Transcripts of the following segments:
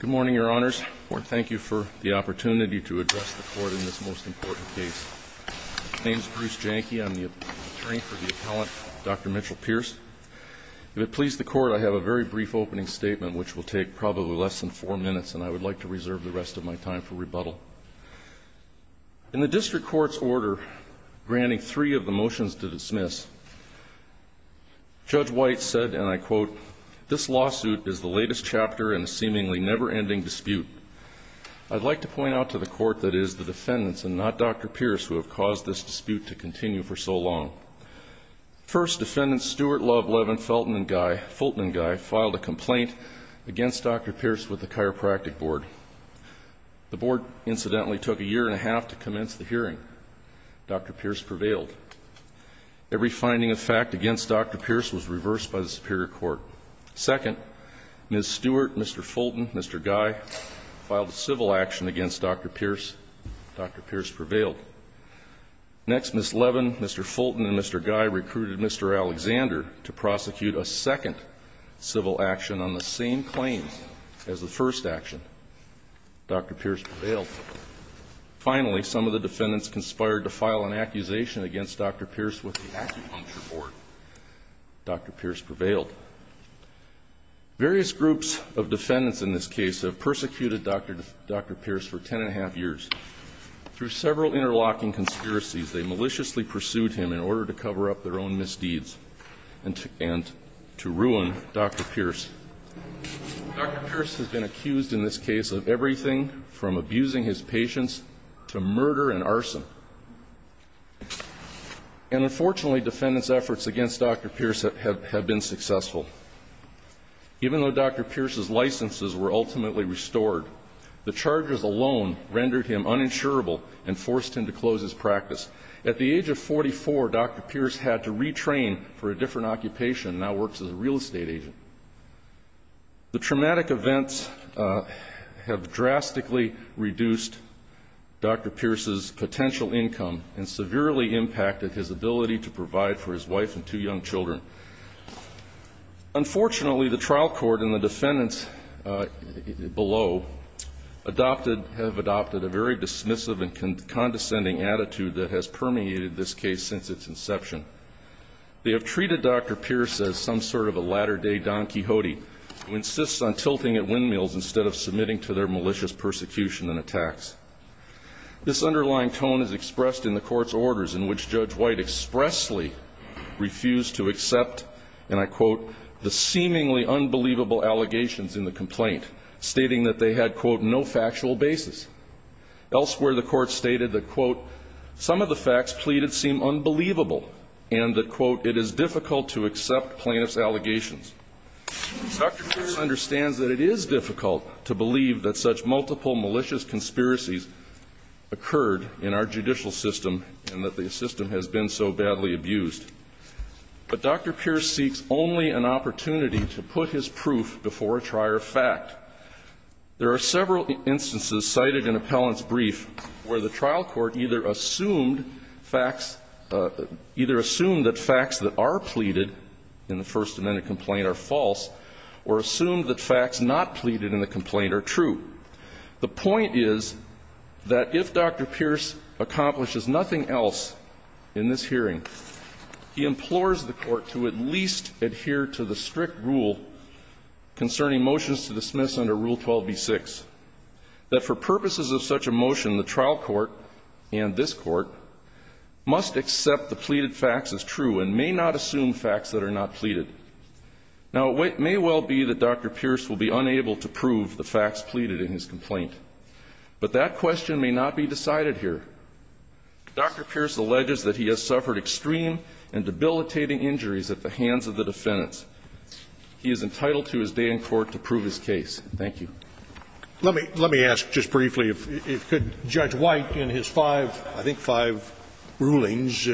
Good morning, Your Honors. I want to thank you for the opportunity to address the Court in this most important case. My name is Bruce Janke. I'm the attorney for the appellant, Dr. Mitchell Pierce. If it pleases the Court, I have a very brief opening statement, which will take probably less than four minutes, and I would like to reserve the rest of my time for rebuttal. In the District Court's order granting three of the motions to dismiss, Judge White said, and I quote, This lawsuit is the latest chapter in a seemingly never-ending dispute. I'd like to point out to the Court that it is the defendants, and not Dr. Pierce, who have caused this dispute to continue for so long. First, Defendant Stuart Love Levin Fultmanguy filed a complaint against Dr. Pierce with the Chiropractic Board. The Board, incidentally, took a year and a half to commence the hearing. Dr. Pierce prevailed. Every finding of fact against Dr. Pierce was reversed by the Superior Court. Second, Ms. Stuart, Mr. Fulton, Mr. Guy filed a civil action against Dr. Pierce. Dr. Pierce prevailed. Next, Ms. Levin, Mr. Fulton, and Mr. Guy recruited Mr. Alexander to prosecute a second civil action on the same claims as the first action. Dr. Pierce prevailed. Finally, some of the defendants conspired to file an accusation against Dr. Pierce with the Acupuncture Board. Dr. Pierce prevailed. Various groups of defendants in this case have persecuted Dr. Pierce for ten and a half years. Through several interlocking conspiracies, they maliciously pursued him in order to cover up their own misdeeds and to ruin Dr. Pierce. Dr. Pierce has been accused in this case of everything from abusing his patients to murder and arson. And unfortunately, defendants' efforts against Dr. Pierce have been successful. Even though Dr. Pierce's licenses were ultimately restored, the charges alone rendered him uninsurable and forced him to close his practice. At the age of 44, Dr. Pierce had to retrain for a different occupation and now works as a real estate agent. The traumatic events have drastically reduced Dr. Pierce's potential income and severely impacted his ability to provide for his wife and two young children. Unfortunately, the trial court and the defendants below adopted, have adopted a very dismissive and condescending attitude that has permeated this case since its inception. They have treated Dr. Pierce as some sort of a latter-day Don Quixote who insists on tilting at windmills instead of submitting to their malicious persecution and attacks. This underlying tone is expressed in the court's orders in which Judge White expressly refused to accept, and I quote, the seemingly unbelievable allegations in the complaint, stating that they had, quote, no factual basis. Elsewhere, the court stated that, quote, some of the facts pleaded seem unbelievable and that, quote, it is difficult to accept plaintiff's allegations. Dr. Pierce understands that it is difficult to believe that such multiple malicious conspiracies occurred in our judicial system and that the system has been so badly abused. But Dr. Pierce seeks only an opportunity to put his proof before a trier of fact. There are several instances cited in appellant's brief where the trial court either assumed facts, either assumed that facts that are pleaded in the First Amendment complaint are false or assumed that facts not pleaded in the complaint are true. The point is that if Dr. Pierce accomplishes nothing else in this hearing, he implores the Court to at least adhere to the strict rule concerning motions to dismiss under Rule 12b-6. That for purposes of such a motion, the trial court and this Court must accept the pleaded facts as true and may not assume facts that are not pleaded. Now, it may well be that Dr. Pierce will be unable to prove the facts pleaded in his complaint, but that question may not be decided here. Dr. Pierce alleges that he has suffered extreme and debilitating injuries at the hands of the defendants. He is entitled to his day in court to prove his case. Thank you. Scalia. Let me ask just briefly if Judge White, in his five, I think five, rulings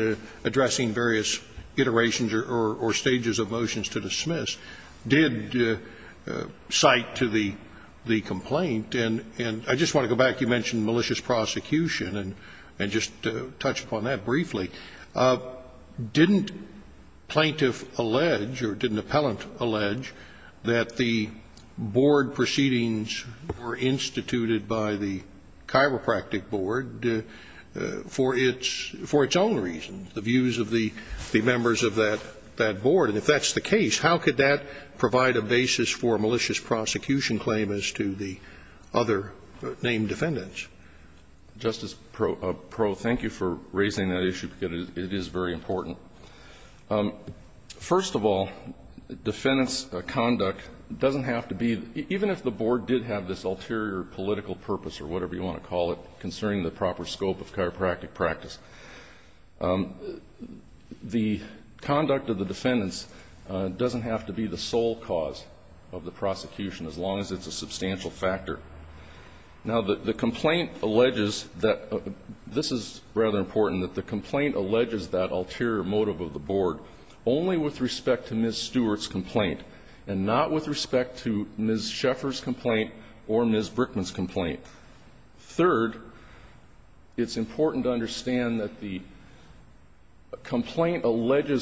addressing various iterations or stages of motions to dismiss, did cite to the complaint and I just want to go back. You mentioned malicious prosecution and just touched upon that briefly. Didn't plaintiff allege or didn't appellant allege that the board proceeding was instituted by the chiropractic board for its own reasons, the views of the members of that board? And if that's the case, how could that provide a basis for a malicious prosecution claim as to the other named defendants? Justice Perot, thank you for raising that issue, because it is very important. First of all, defendant's conduct doesn't have to be, even if the board did have this ulterior political purpose or whatever you want to call it concerning the proper scope of chiropractic practice, the conduct of the defendants doesn't have to be the sole cause of the prosecution as long as it's a substantial factor. Now, the complaint alleges that, this is rather important, that the complaint alleges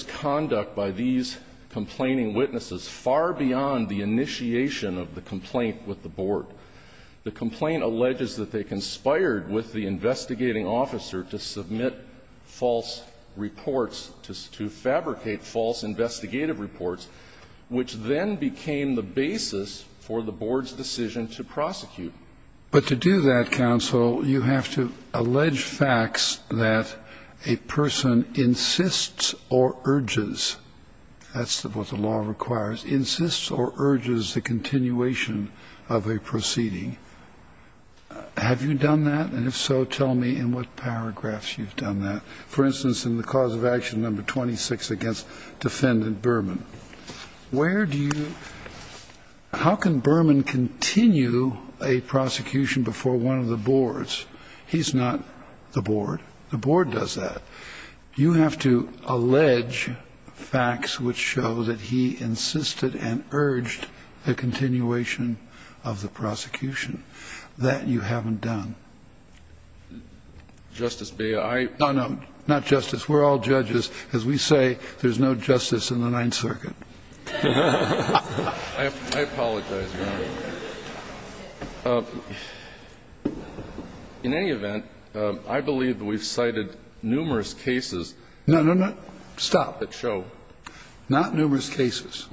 conduct by these complaining witnesses far beyond the initiation of the complaint with the board. The complaint alleges that they conspired with the investigating officer to submit of the complaint with the board. But to do that, counsel, you have to allege facts that a person insists or urges that's what the law requires, insists or urges the continuation of a proceeding. Have you done that? And if so, tell me in what paragraphs you've done that. For instance, in the cause of action No. 2, it says, How can Berman continue a prosecution before one of the boards? He's not the board. The board does that. You have to allege facts which show that he insisted and urged the continuation of the prosecution. That you haven't done. Justice, may I? No, no. Not justice. We're all judges. As we say, there's no justice in the Ninth Circuit. I apologize, Your Honor. In any event, I believe that we've cited numerous cases. No, no, no. Stop. That show. Not numerous cases.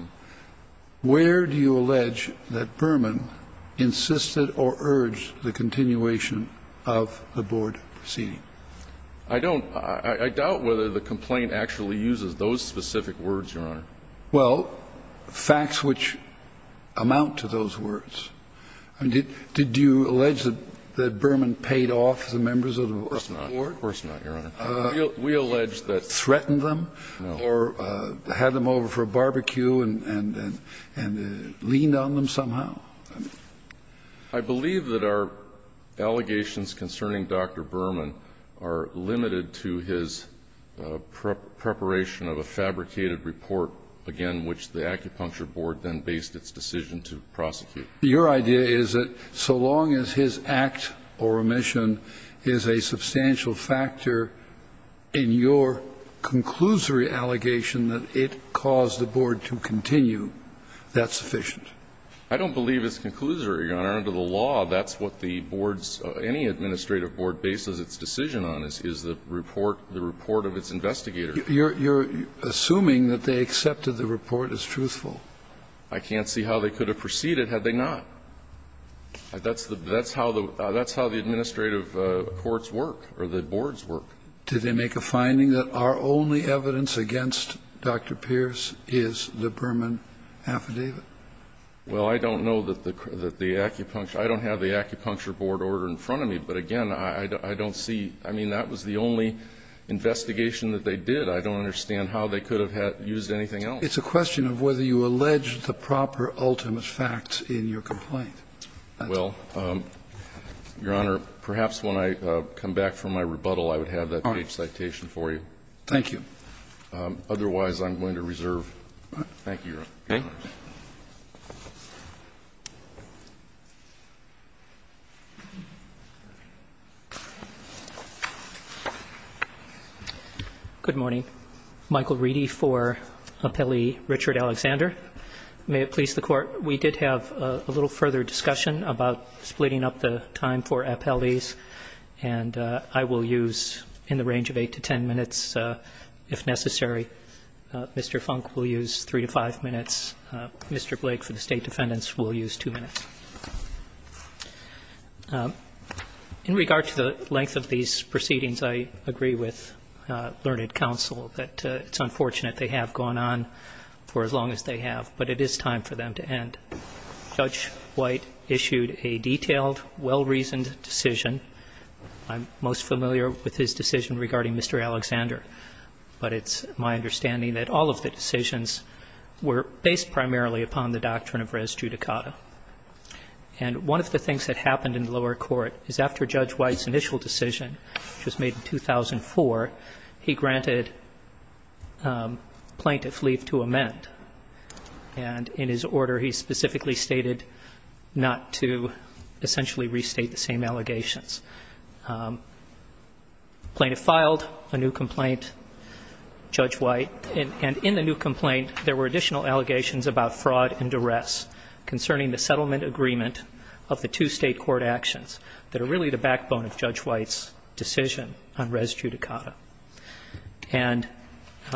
Where do you allege that Berman insisted or urged the continuation of the board proceeding? I don't. I doubt whether the complaint actually uses those specific words, Your Honor. Well, facts which amount to those words. Did you allege that Berman paid off the members of the board? Of course not. Of course not, Your Honor. We allege that. Threatened them? No. Or had them over for a barbecue and leaned on them somehow? I believe that our allegations concerning Dr. Berman are limited to his preparation of a fabricated report, again, which the Acupuncture Board then based its decision to prosecute. Your idea is that so long as his act or omission is a substantial factor in your conclusory allegation that it caused the board to continue, that's sufficient? I don't believe it's conclusory, Your Honor. Under the law, that's what the board's any administrative board bases its decision on, is the report, the report of its investigator. You're assuming that they accepted the report as truthful. I can't see how they could have proceeded had they not. That's how the administrative courts work or the boards work. Did they make a finding that our only evidence against Dr. Pierce is the Berman affidavit? Well, I don't know that the Acupuncture Board ordered in front of me, but again, I don't see that was the only investigation that they did. I don't understand how they could have used anything else. It's a question of whether you allege the proper ultimate facts in your complaint. Well, Your Honor, perhaps when I come back from my rebuttal, I would have that page citation for you. Otherwise, I'm going to reserve. Thank you, Your Honor. Okay. Good morning. Michael Reedy for Appellee Richard Alexander. May it please the Court, we did have a little further discussion about splitting up the time for appellees, and I will use in the range of 8 to 10 minutes if necessary. Mr. Funk will use 3 to 5 minutes. Mr. Blake for the State Defendants will use 2 minutes. In regard to the length of these proceedings, I agree with learned counsel that it's unfortunate they have gone on for as long as they have, but it is time for them to end. Judge White issued a detailed, well-reasoned decision. I'm most familiar with his decision regarding Mr. Alexander, but it's my understanding that all of the decisions were based primarily upon the doctrine of res judicata. And one of the things that happened in lower court is after Judge White's initial decision, which was made in 2004, he granted plaintiff leave to amend. And in his order, he specifically stated not to essentially restate the same allegations. Plaintiff filed a new complaint, Judge White, and in the new complaint, there were additional allegations about fraud and duress concerning the settlement agreement of the two State court actions that are really the backbone of Judge White's decision on res judicata. And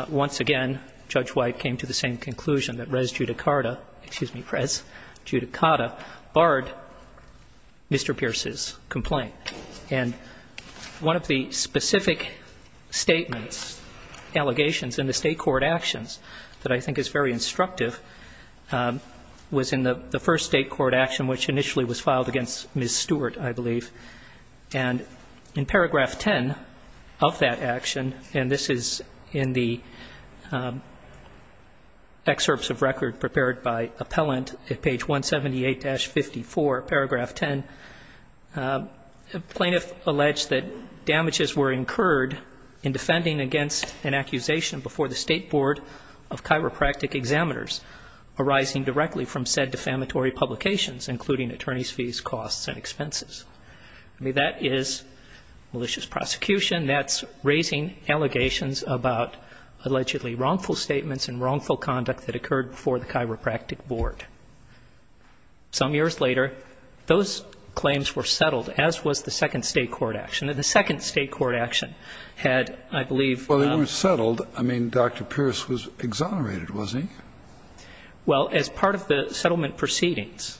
once again, Judge White came to the same conclusion that res judicata, excuse me, res judicata barred Mr. Pierce's complaint. And one of the specific statements, allegations in the State court actions that I think is very instructive was in the first State court action, which initially was filed against Ms. Stewart, I believe. And in paragraph 10 of that action, and this is in the excerpts of record prepared by appellant at page 178-54, paragraph 10, the plaintiff alleged that damages were incurred in defending against an accusation before the State board of chiropractic examiners arising directly from said defamatory publications, including attorney's fees, costs and expenses. I mean, that is malicious prosecution. That's raising allegations about allegedly wrongful statements and wrongful conduct that occurred before the chiropractic board. Some years later, those claims were settled, as was the second State court action. And the second State court action had, I believe ---- Well, they were settled. I mean, Dr. Pierce was exonerated, was he? Well, as part of the settlement proceedings.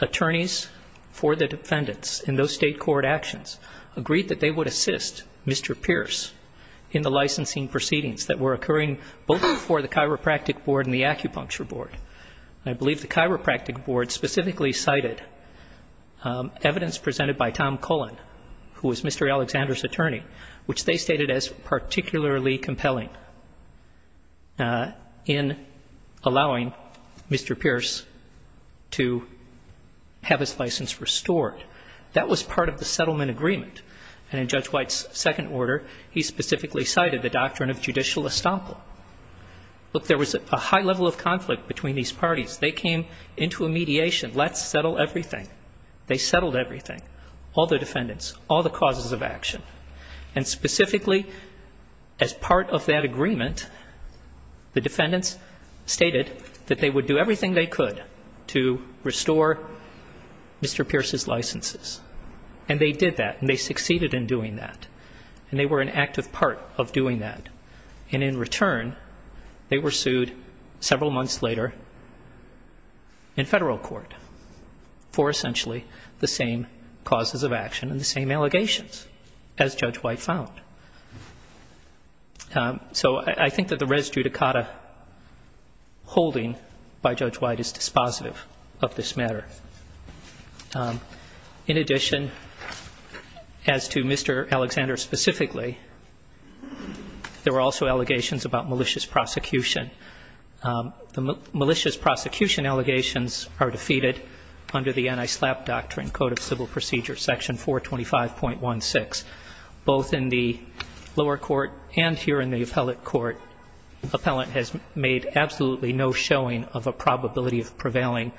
Attorneys for the defendants in those State court actions agreed that they would assist Mr. Pierce in the licensing proceedings that were occurring both before the chiropractic board and the acupuncture board. I believe the chiropractic board specifically cited evidence presented by Tom Cullen, who was Mr. Alexander's attorney, which they stated as particularly compelling in allowing Mr. Pierce to have his license restored. That was part of the settlement agreement. And in Judge White's second order, he specifically cited the doctrine of judicial estoppel. Look, there was a high level of conflict between these parties. They came into a mediation. Let's settle everything. They settled everything, all the defendants, all the causes of action. And specifically, as part of that agreement, the defendants stated that they would do everything they could to restore Mr. Pierce's licenses. And they did that and they succeeded in doing that. And they were an active part of doing that. And in return, they were sued several months later in Federal court for essentially the same causes of action and the same allegations. As Judge White found. So I think that the res judicata holding by Judge White is dispositive of this matter. In addition, as to Mr. Alexander specifically, there were also allegations about malicious prosecution. The malicious prosecution allegations are defeated under the anti-SLAPP doctrine, code of civil procedure, section 425.16. Both in the lower court and here in the appellate court, appellant has made absolutely no showing of a probability of prevailing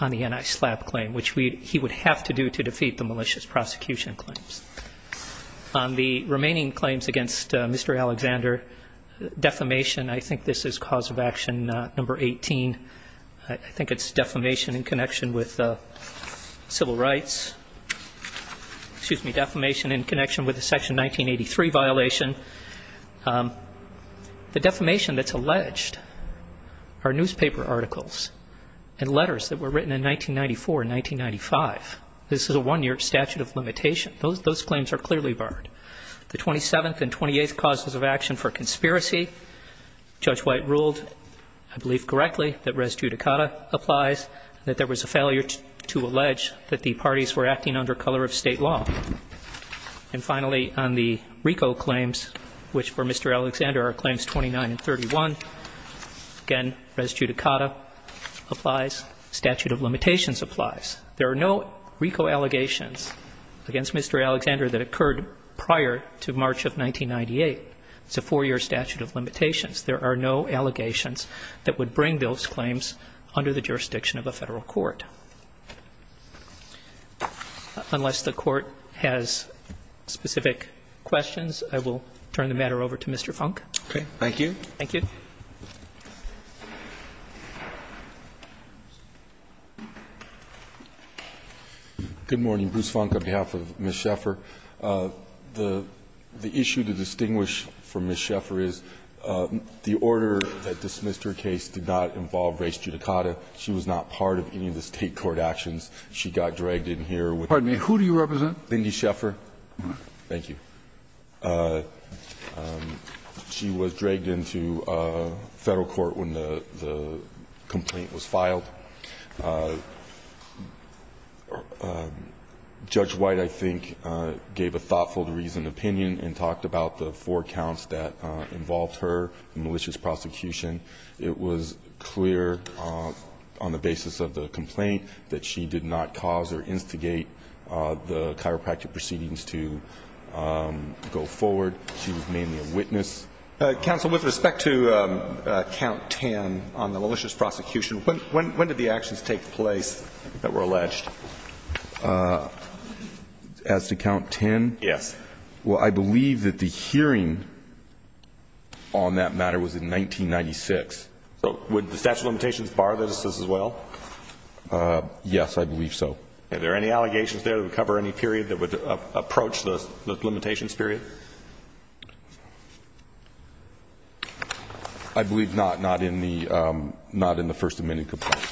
on the anti-SLAPP claim, which he would have to do to defeat the malicious prosecution claims. On the remaining claims against Mr. Alexander, defamation, I think this is cause of action number 18. I think it's defamation in connection with civil rights. Excuse me, defamation in connection with the section 1983 violation. The defamation that's alleged are newspaper articles and letters that were written in 1994 and 1995. This is a one-year statute of limitation. Those claims are clearly barred. The 27th and 28th causes of action for conspiracy, Judge White ruled, I believe, correctly that res judicata applies, that there was a failure to allege that the parties were acting under color of State law. And finally, on the RICO claims, which for Mr. Alexander are claims 29 and 31, again, res judicata applies, statute of limitations applies. There are no RICO allegations against Mr. Alexander that occurred prior to March of 1998. It's a four-year statute of limitations. There are no allegations that would bring those claims under the jurisdiction of a Federal court. Unless the Court has specific questions, I will turn the matter over to Mr. Funk. Okay. Thank you. Thank you. Good morning. Bruce Funk on behalf of Ms. Sheffer. The issue to distinguish from Ms. Sheffer is the order that dismissed her case did not involve res judicata. She was not part of any of the State court actions. She got dragged in here with. Pardon me. Who do you represent? Bindi Sheffer. Thank you. She was dragged into Federal court when the complaint was filed. Judge White, I think, gave a thoughtful, reasoned opinion and talked about the four counts that involved her, the malicious prosecution. It was clear on the basis of the complaint that she did not cause or instigate the chiropractic proceedings to go forward. She was mainly a witness. Counsel, with respect to count 10 on the malicious prosecution, when did you hear that? When did the actions take place that were alleged? As to count 10? Yes. Well, I believe that the hearing on that matter was in 1996. Would the statute of limitations bar this as well? Yes, I believe so. Are there any allegations there that would cover any period that would approach the limitations period? I believe not, not in the first amendment complaint.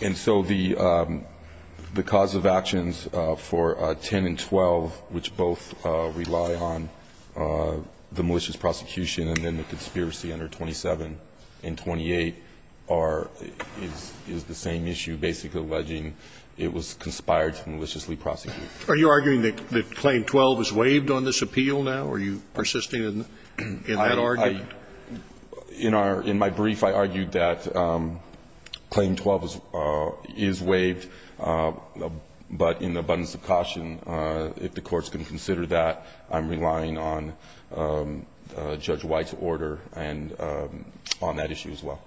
And so the cause of actions for 10 and 12, which both rely on the malicious prosecution and then the conspiracy under 27 and 28, are the same issue, basically alleging it was conspired to maliciously prosecute. Are you arguing that claim 12 is waived on this appeal now? Are you persisting in that argument? In our brief, I argued that claim 12 is waived, but in abundance of caution, if the Court's going to consider that, I'm relying on Judge White's order and on that issue as well.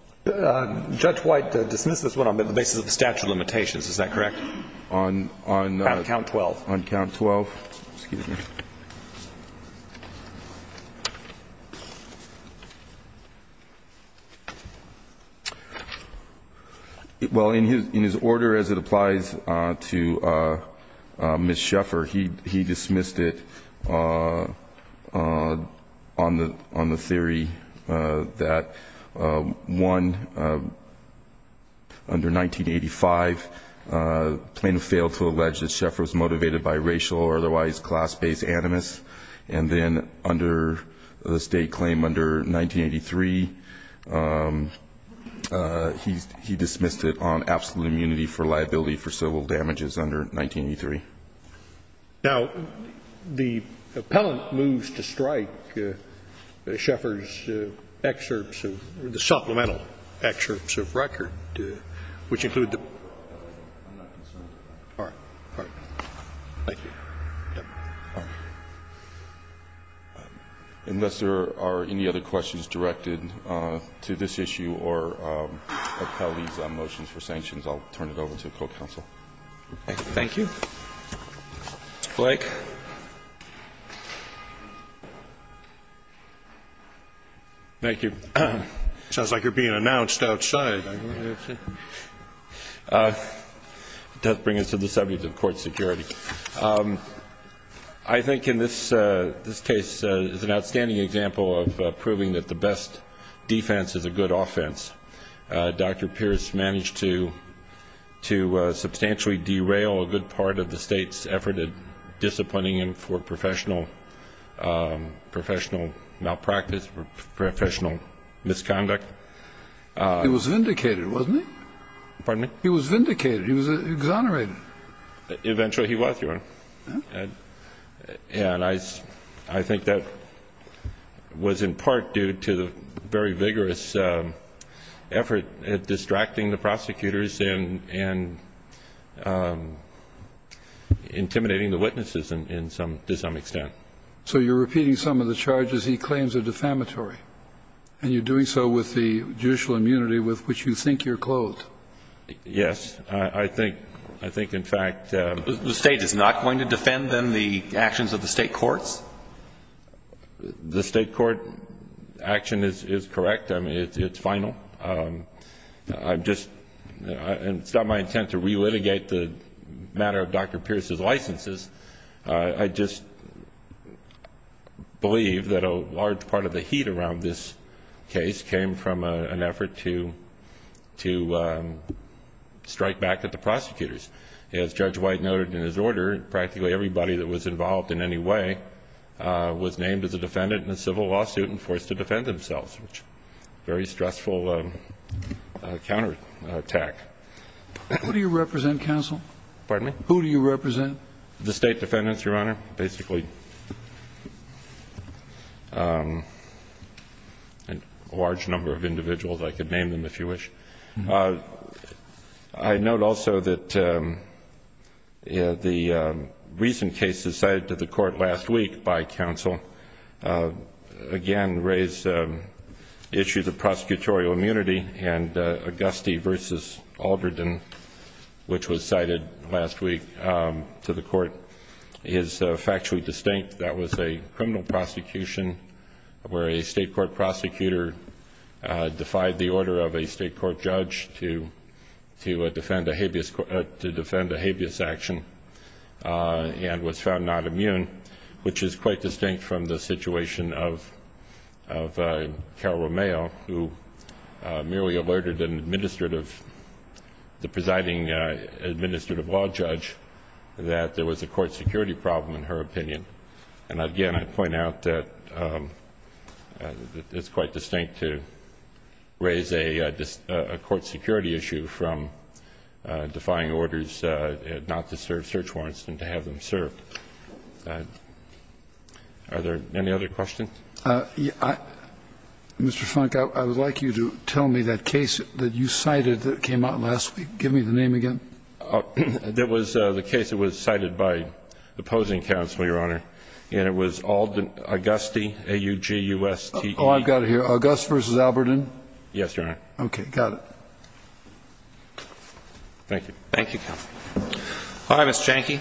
Judge White dismissed this one on the basis of the statute of limitations. Is that correct? On count 12. On count 12. Excuse me. he dismissed it on the theory that, one, under 1985, plaintiff failed to allege that Schaeffer's motivated by racial or otherwise class-based animus. And then under the state claim, under 1983, he dismissed it on absolute immunity for liability for civil damages under 1983. Now, the appellant moves to strike Schaeffer's excerpts of the supplemental excerpts of record, which include the ______. I'm not concerned about that. All right. All right. Thank you. Unless there are any other questions directed to this issue or appellees' motions for sanctions, I'll turn it over to the Co-Counsel. Thank you. Blake. Thank you. It sounds like you're being announced outside. That brings us to the subject of court security. I think in this case, it's an outstanding example of proving that the best defense is a good offense. I think that's part of the State's effort at disciplining him for professional malpractice, professional misconduct. He was vindicated, wasn't he? Pardon me? He was vindicated. He was exonerated. Eventually he was, Your Honor. And I think that was in part due to the very vigorous effort at distracting the prosecutors and intimidating the witnesses to some extent. So you're repeating some of the charges he claims are defamatory, and you're doing so with the judicial immunity with which you think you're clothed? Yes. I think, in fact ______. The State is not going to defend, then, the actions of the State courts? The State court action is correct. I mean, it's final. It's not my intent to re-litigate the matter of Dr. Pierce's licenses. I just believe that a large part of the heat around this case came from an effort to strike back at the prosecutors. As Judge White noted in his order, practically everybody that was involved in any way was named as a defendant in a civil lawsuit and forced to defend themselves, which was a very stressful counterattack. Who do you represent, counsel? Pardon me? Who do you represent? The State defendants, Your Honor, basically. A large number of individuals. I could name them if you wish. I note also that the recent cases cited to the court last week by counsel, again, raise issues of prosecutorial immunity, and Auguste v. Aldreden, which was cited last week to the court, is factually distinct. That was a criminal prosecution where a State court prosecutor defied the order of a State court judge to defend a habeas action and was found not immune, which is quite distinct from the situation of Carol Romeo, who merely alerted the presiding administrative law judge that there was a court security problem, in her opinion. And again, I point out that it's quite distinct to raise a court security issue from defying orders not to serve search warrants and to have them served. Are there any other questions? Mr. Funk, I would like you to tell me that case that you cited that came out last Give me the name again. That was the case that was cited by opposing counsel, Your Honor, and it was Auguste, A-U-G-U-S-T-E. Oh, I've got it here. Auguste v. Aldreden? Yes, Your Honor. Okay. Got it. Thank you. Thank you, counsel. All right, Mr. Janke.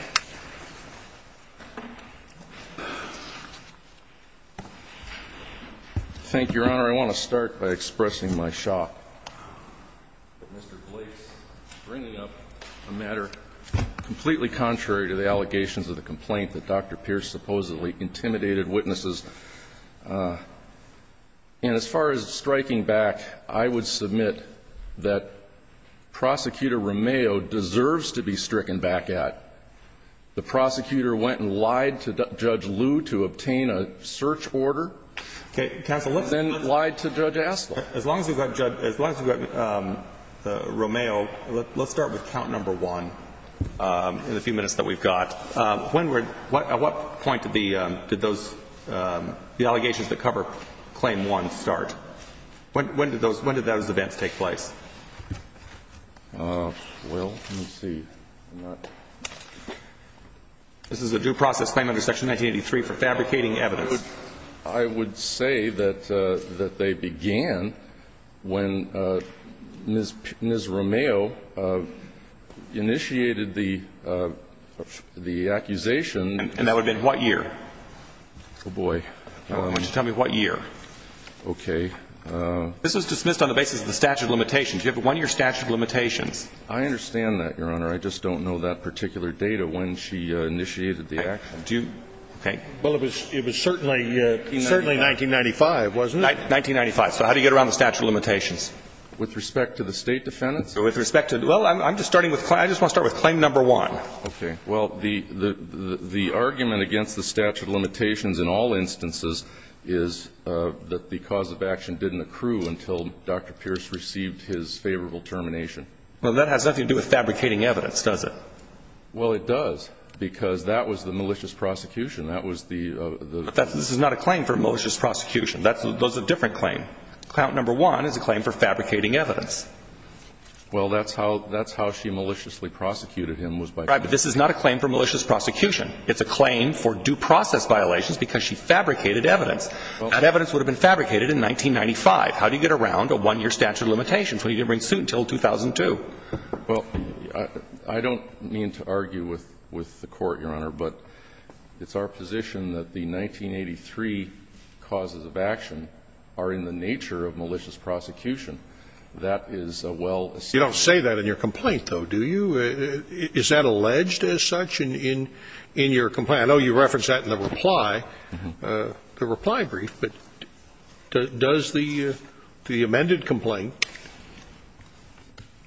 Thank you, Your Honor. I want to start by expressing my shock. Mr. Blake's bringing up a matter completely contrary to the allegations of the complaint that Dr. Pierce supposedly intimidated witnesses. And as far as striking back, I would submit that Prosecutor Romeo deserves to be stricken back at. The prosecutor went and lied to Judge Liu to obtain a search order. Counsel, look. Then lied to Judge Astell. As long as we've got Judge Romeo, let's start with count number one in the few minutes that we've got. When were at what point did the allegations that cover claim one start? When did those events take place? Well, let me see. This is a due process claim under Section 1983 for fabricating evidence. I would say that they began when Ms. Romeo initiated the accusation. And that would have been what year? Oh, boy. Why don't you tell me what year? Okay. This was dismissed on the basis of the statute of limitations. You have one year statute of limitations. I understand that, Your Honor. I just don't know that particular data when she initiated the action. Do you? Okay. Well, it was certainly 1995, wasn't it? 1995. So how do you get around the statute of limitations? With respect to the State defendants? Well, I'm just starting with claim number one. Okay. Well, the argument against the statute of limitations in all instances is that the cause of action didn't accrue until Dr. Pierce received his favorable termination. Well, that has nothing to do with fabricating evidence, does it? Well, it does. Because that was the malicious prosecution. That was the ---- But this is not a claim for malicious prosecution. That's a different claim. Claim number one is a claim for fabricating evidence. Well, that's how she maliciously prosecuted him was by ---- Right. But this is not a claim for malicious prosecution. It's a claim for due process violations because she fabricated evidence. That evidence would have been fabricated in 1995. How do you get around a one-year statute of limitations when you didn't bring suit until 2002? Well, I don't mean to argue with the Court, Your Honor, but it's our position that the 1983 causes of action are in the nature of malicious prosecution. That is a well----- You don't say that in your complaint, though, do you? Is that alleged as such in your complaint? I know you referenced that in the reply, the reply brief. But does the amended complaint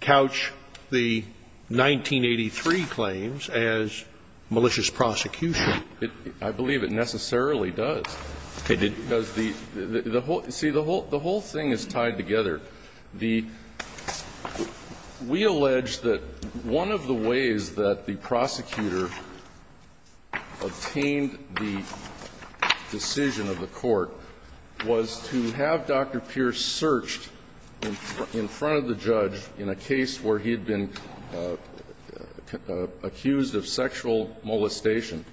couch the 1983 claims as malicious prosecution? I believe it necessarily does. Okay. Because the whole ---- see, the whole thing is tied together. The ---- we allege that one of the ways that the prosecutor obtained the decision of the Court was to have Dr. Pierce searched in front of the judge in a case where he had been accused of sexual molestation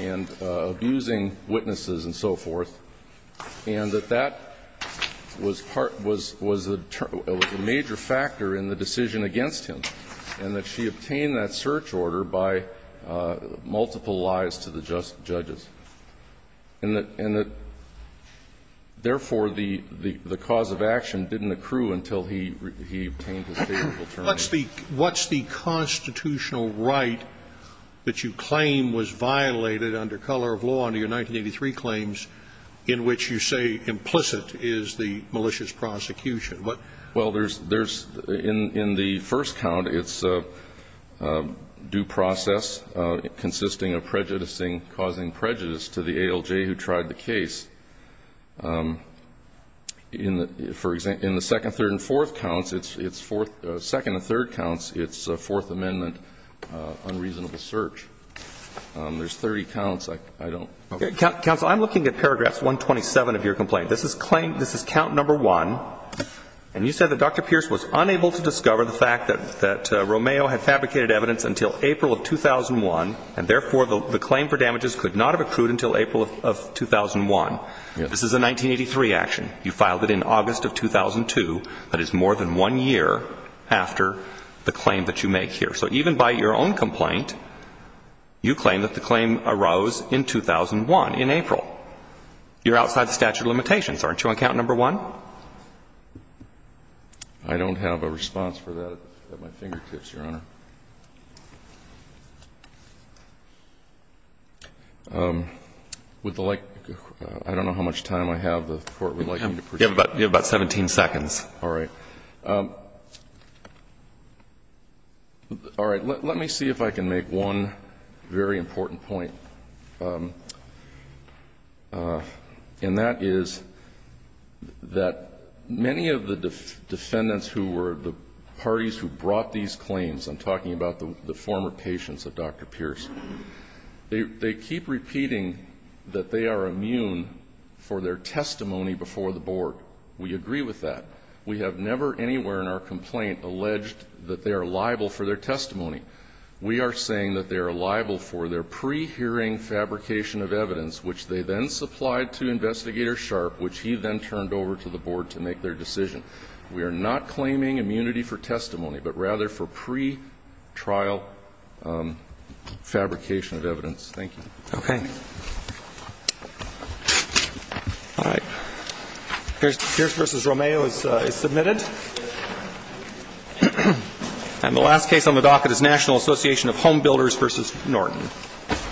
and abusing witnesses and so forth, and that that was part of the major factor in the decision against him, and that she obtained that search order by multiple lies to the judges, and that, therefore, the cause of action didn't accrue until he obtained his favorable term. What's the constitutional right that you claim was violated under color of law under your 1983 claims in which you say implicit is the malicious prosecution? Well, there's ---- in the first count, it's due process consisting of prejudicing causing prejudice to the ALJ who tried the case. In the second, third, and fourth counts, it's fourth ---- second and third counts, it's Fourth Amendment unreasonable search. There's 30 counts. I don't ---- Counsel, I'm looking at paragraphs 127 of your complaint. This is claim ---- this is count number one, and you said that Dr. Pierce was unable to discover the fact that Romeo had fabricated evidence until April of 2001, and therefore, the claim for damages could not have accrued until April of 2001. Yes. This is a 1983 action. You filed it in August of 2002. That is more than one year after the claim that you make here. So even by your own complaint, you claim that the claim arose in 2001, in April. You're outside the statute of limitations, aren't you, on count number one? I don't have a response for that at my fingertips, Your Honor. Would the like ---- I don't know how much time I have. The Court would like me to proceed. You have about 17 seconds. All right. Let me see if I can make one very important point, and that is that many of the defendants who were the parties who brought these claims, I'm talking about the former patients of Dr. Pierce, they keep repeating that they are immune for their testimony before the board. We agree with that. We have never anywhere in our complaint alleged that they are liable for their testimony. We are saying that they are liable for their pre-hearing fabrication of evidence, which they then supplied to Investigator Sharp, which he then turned over to the board to make their decision. We are not claiming immunity for testimony, but rather for pre-trial fabrication of evidence. Thank you. Okay. All right. Pierce v. Romeo is submitted. And the last case on the docket is National Association of Home Builders v. Norton. Thank you. Thank you. Thank you.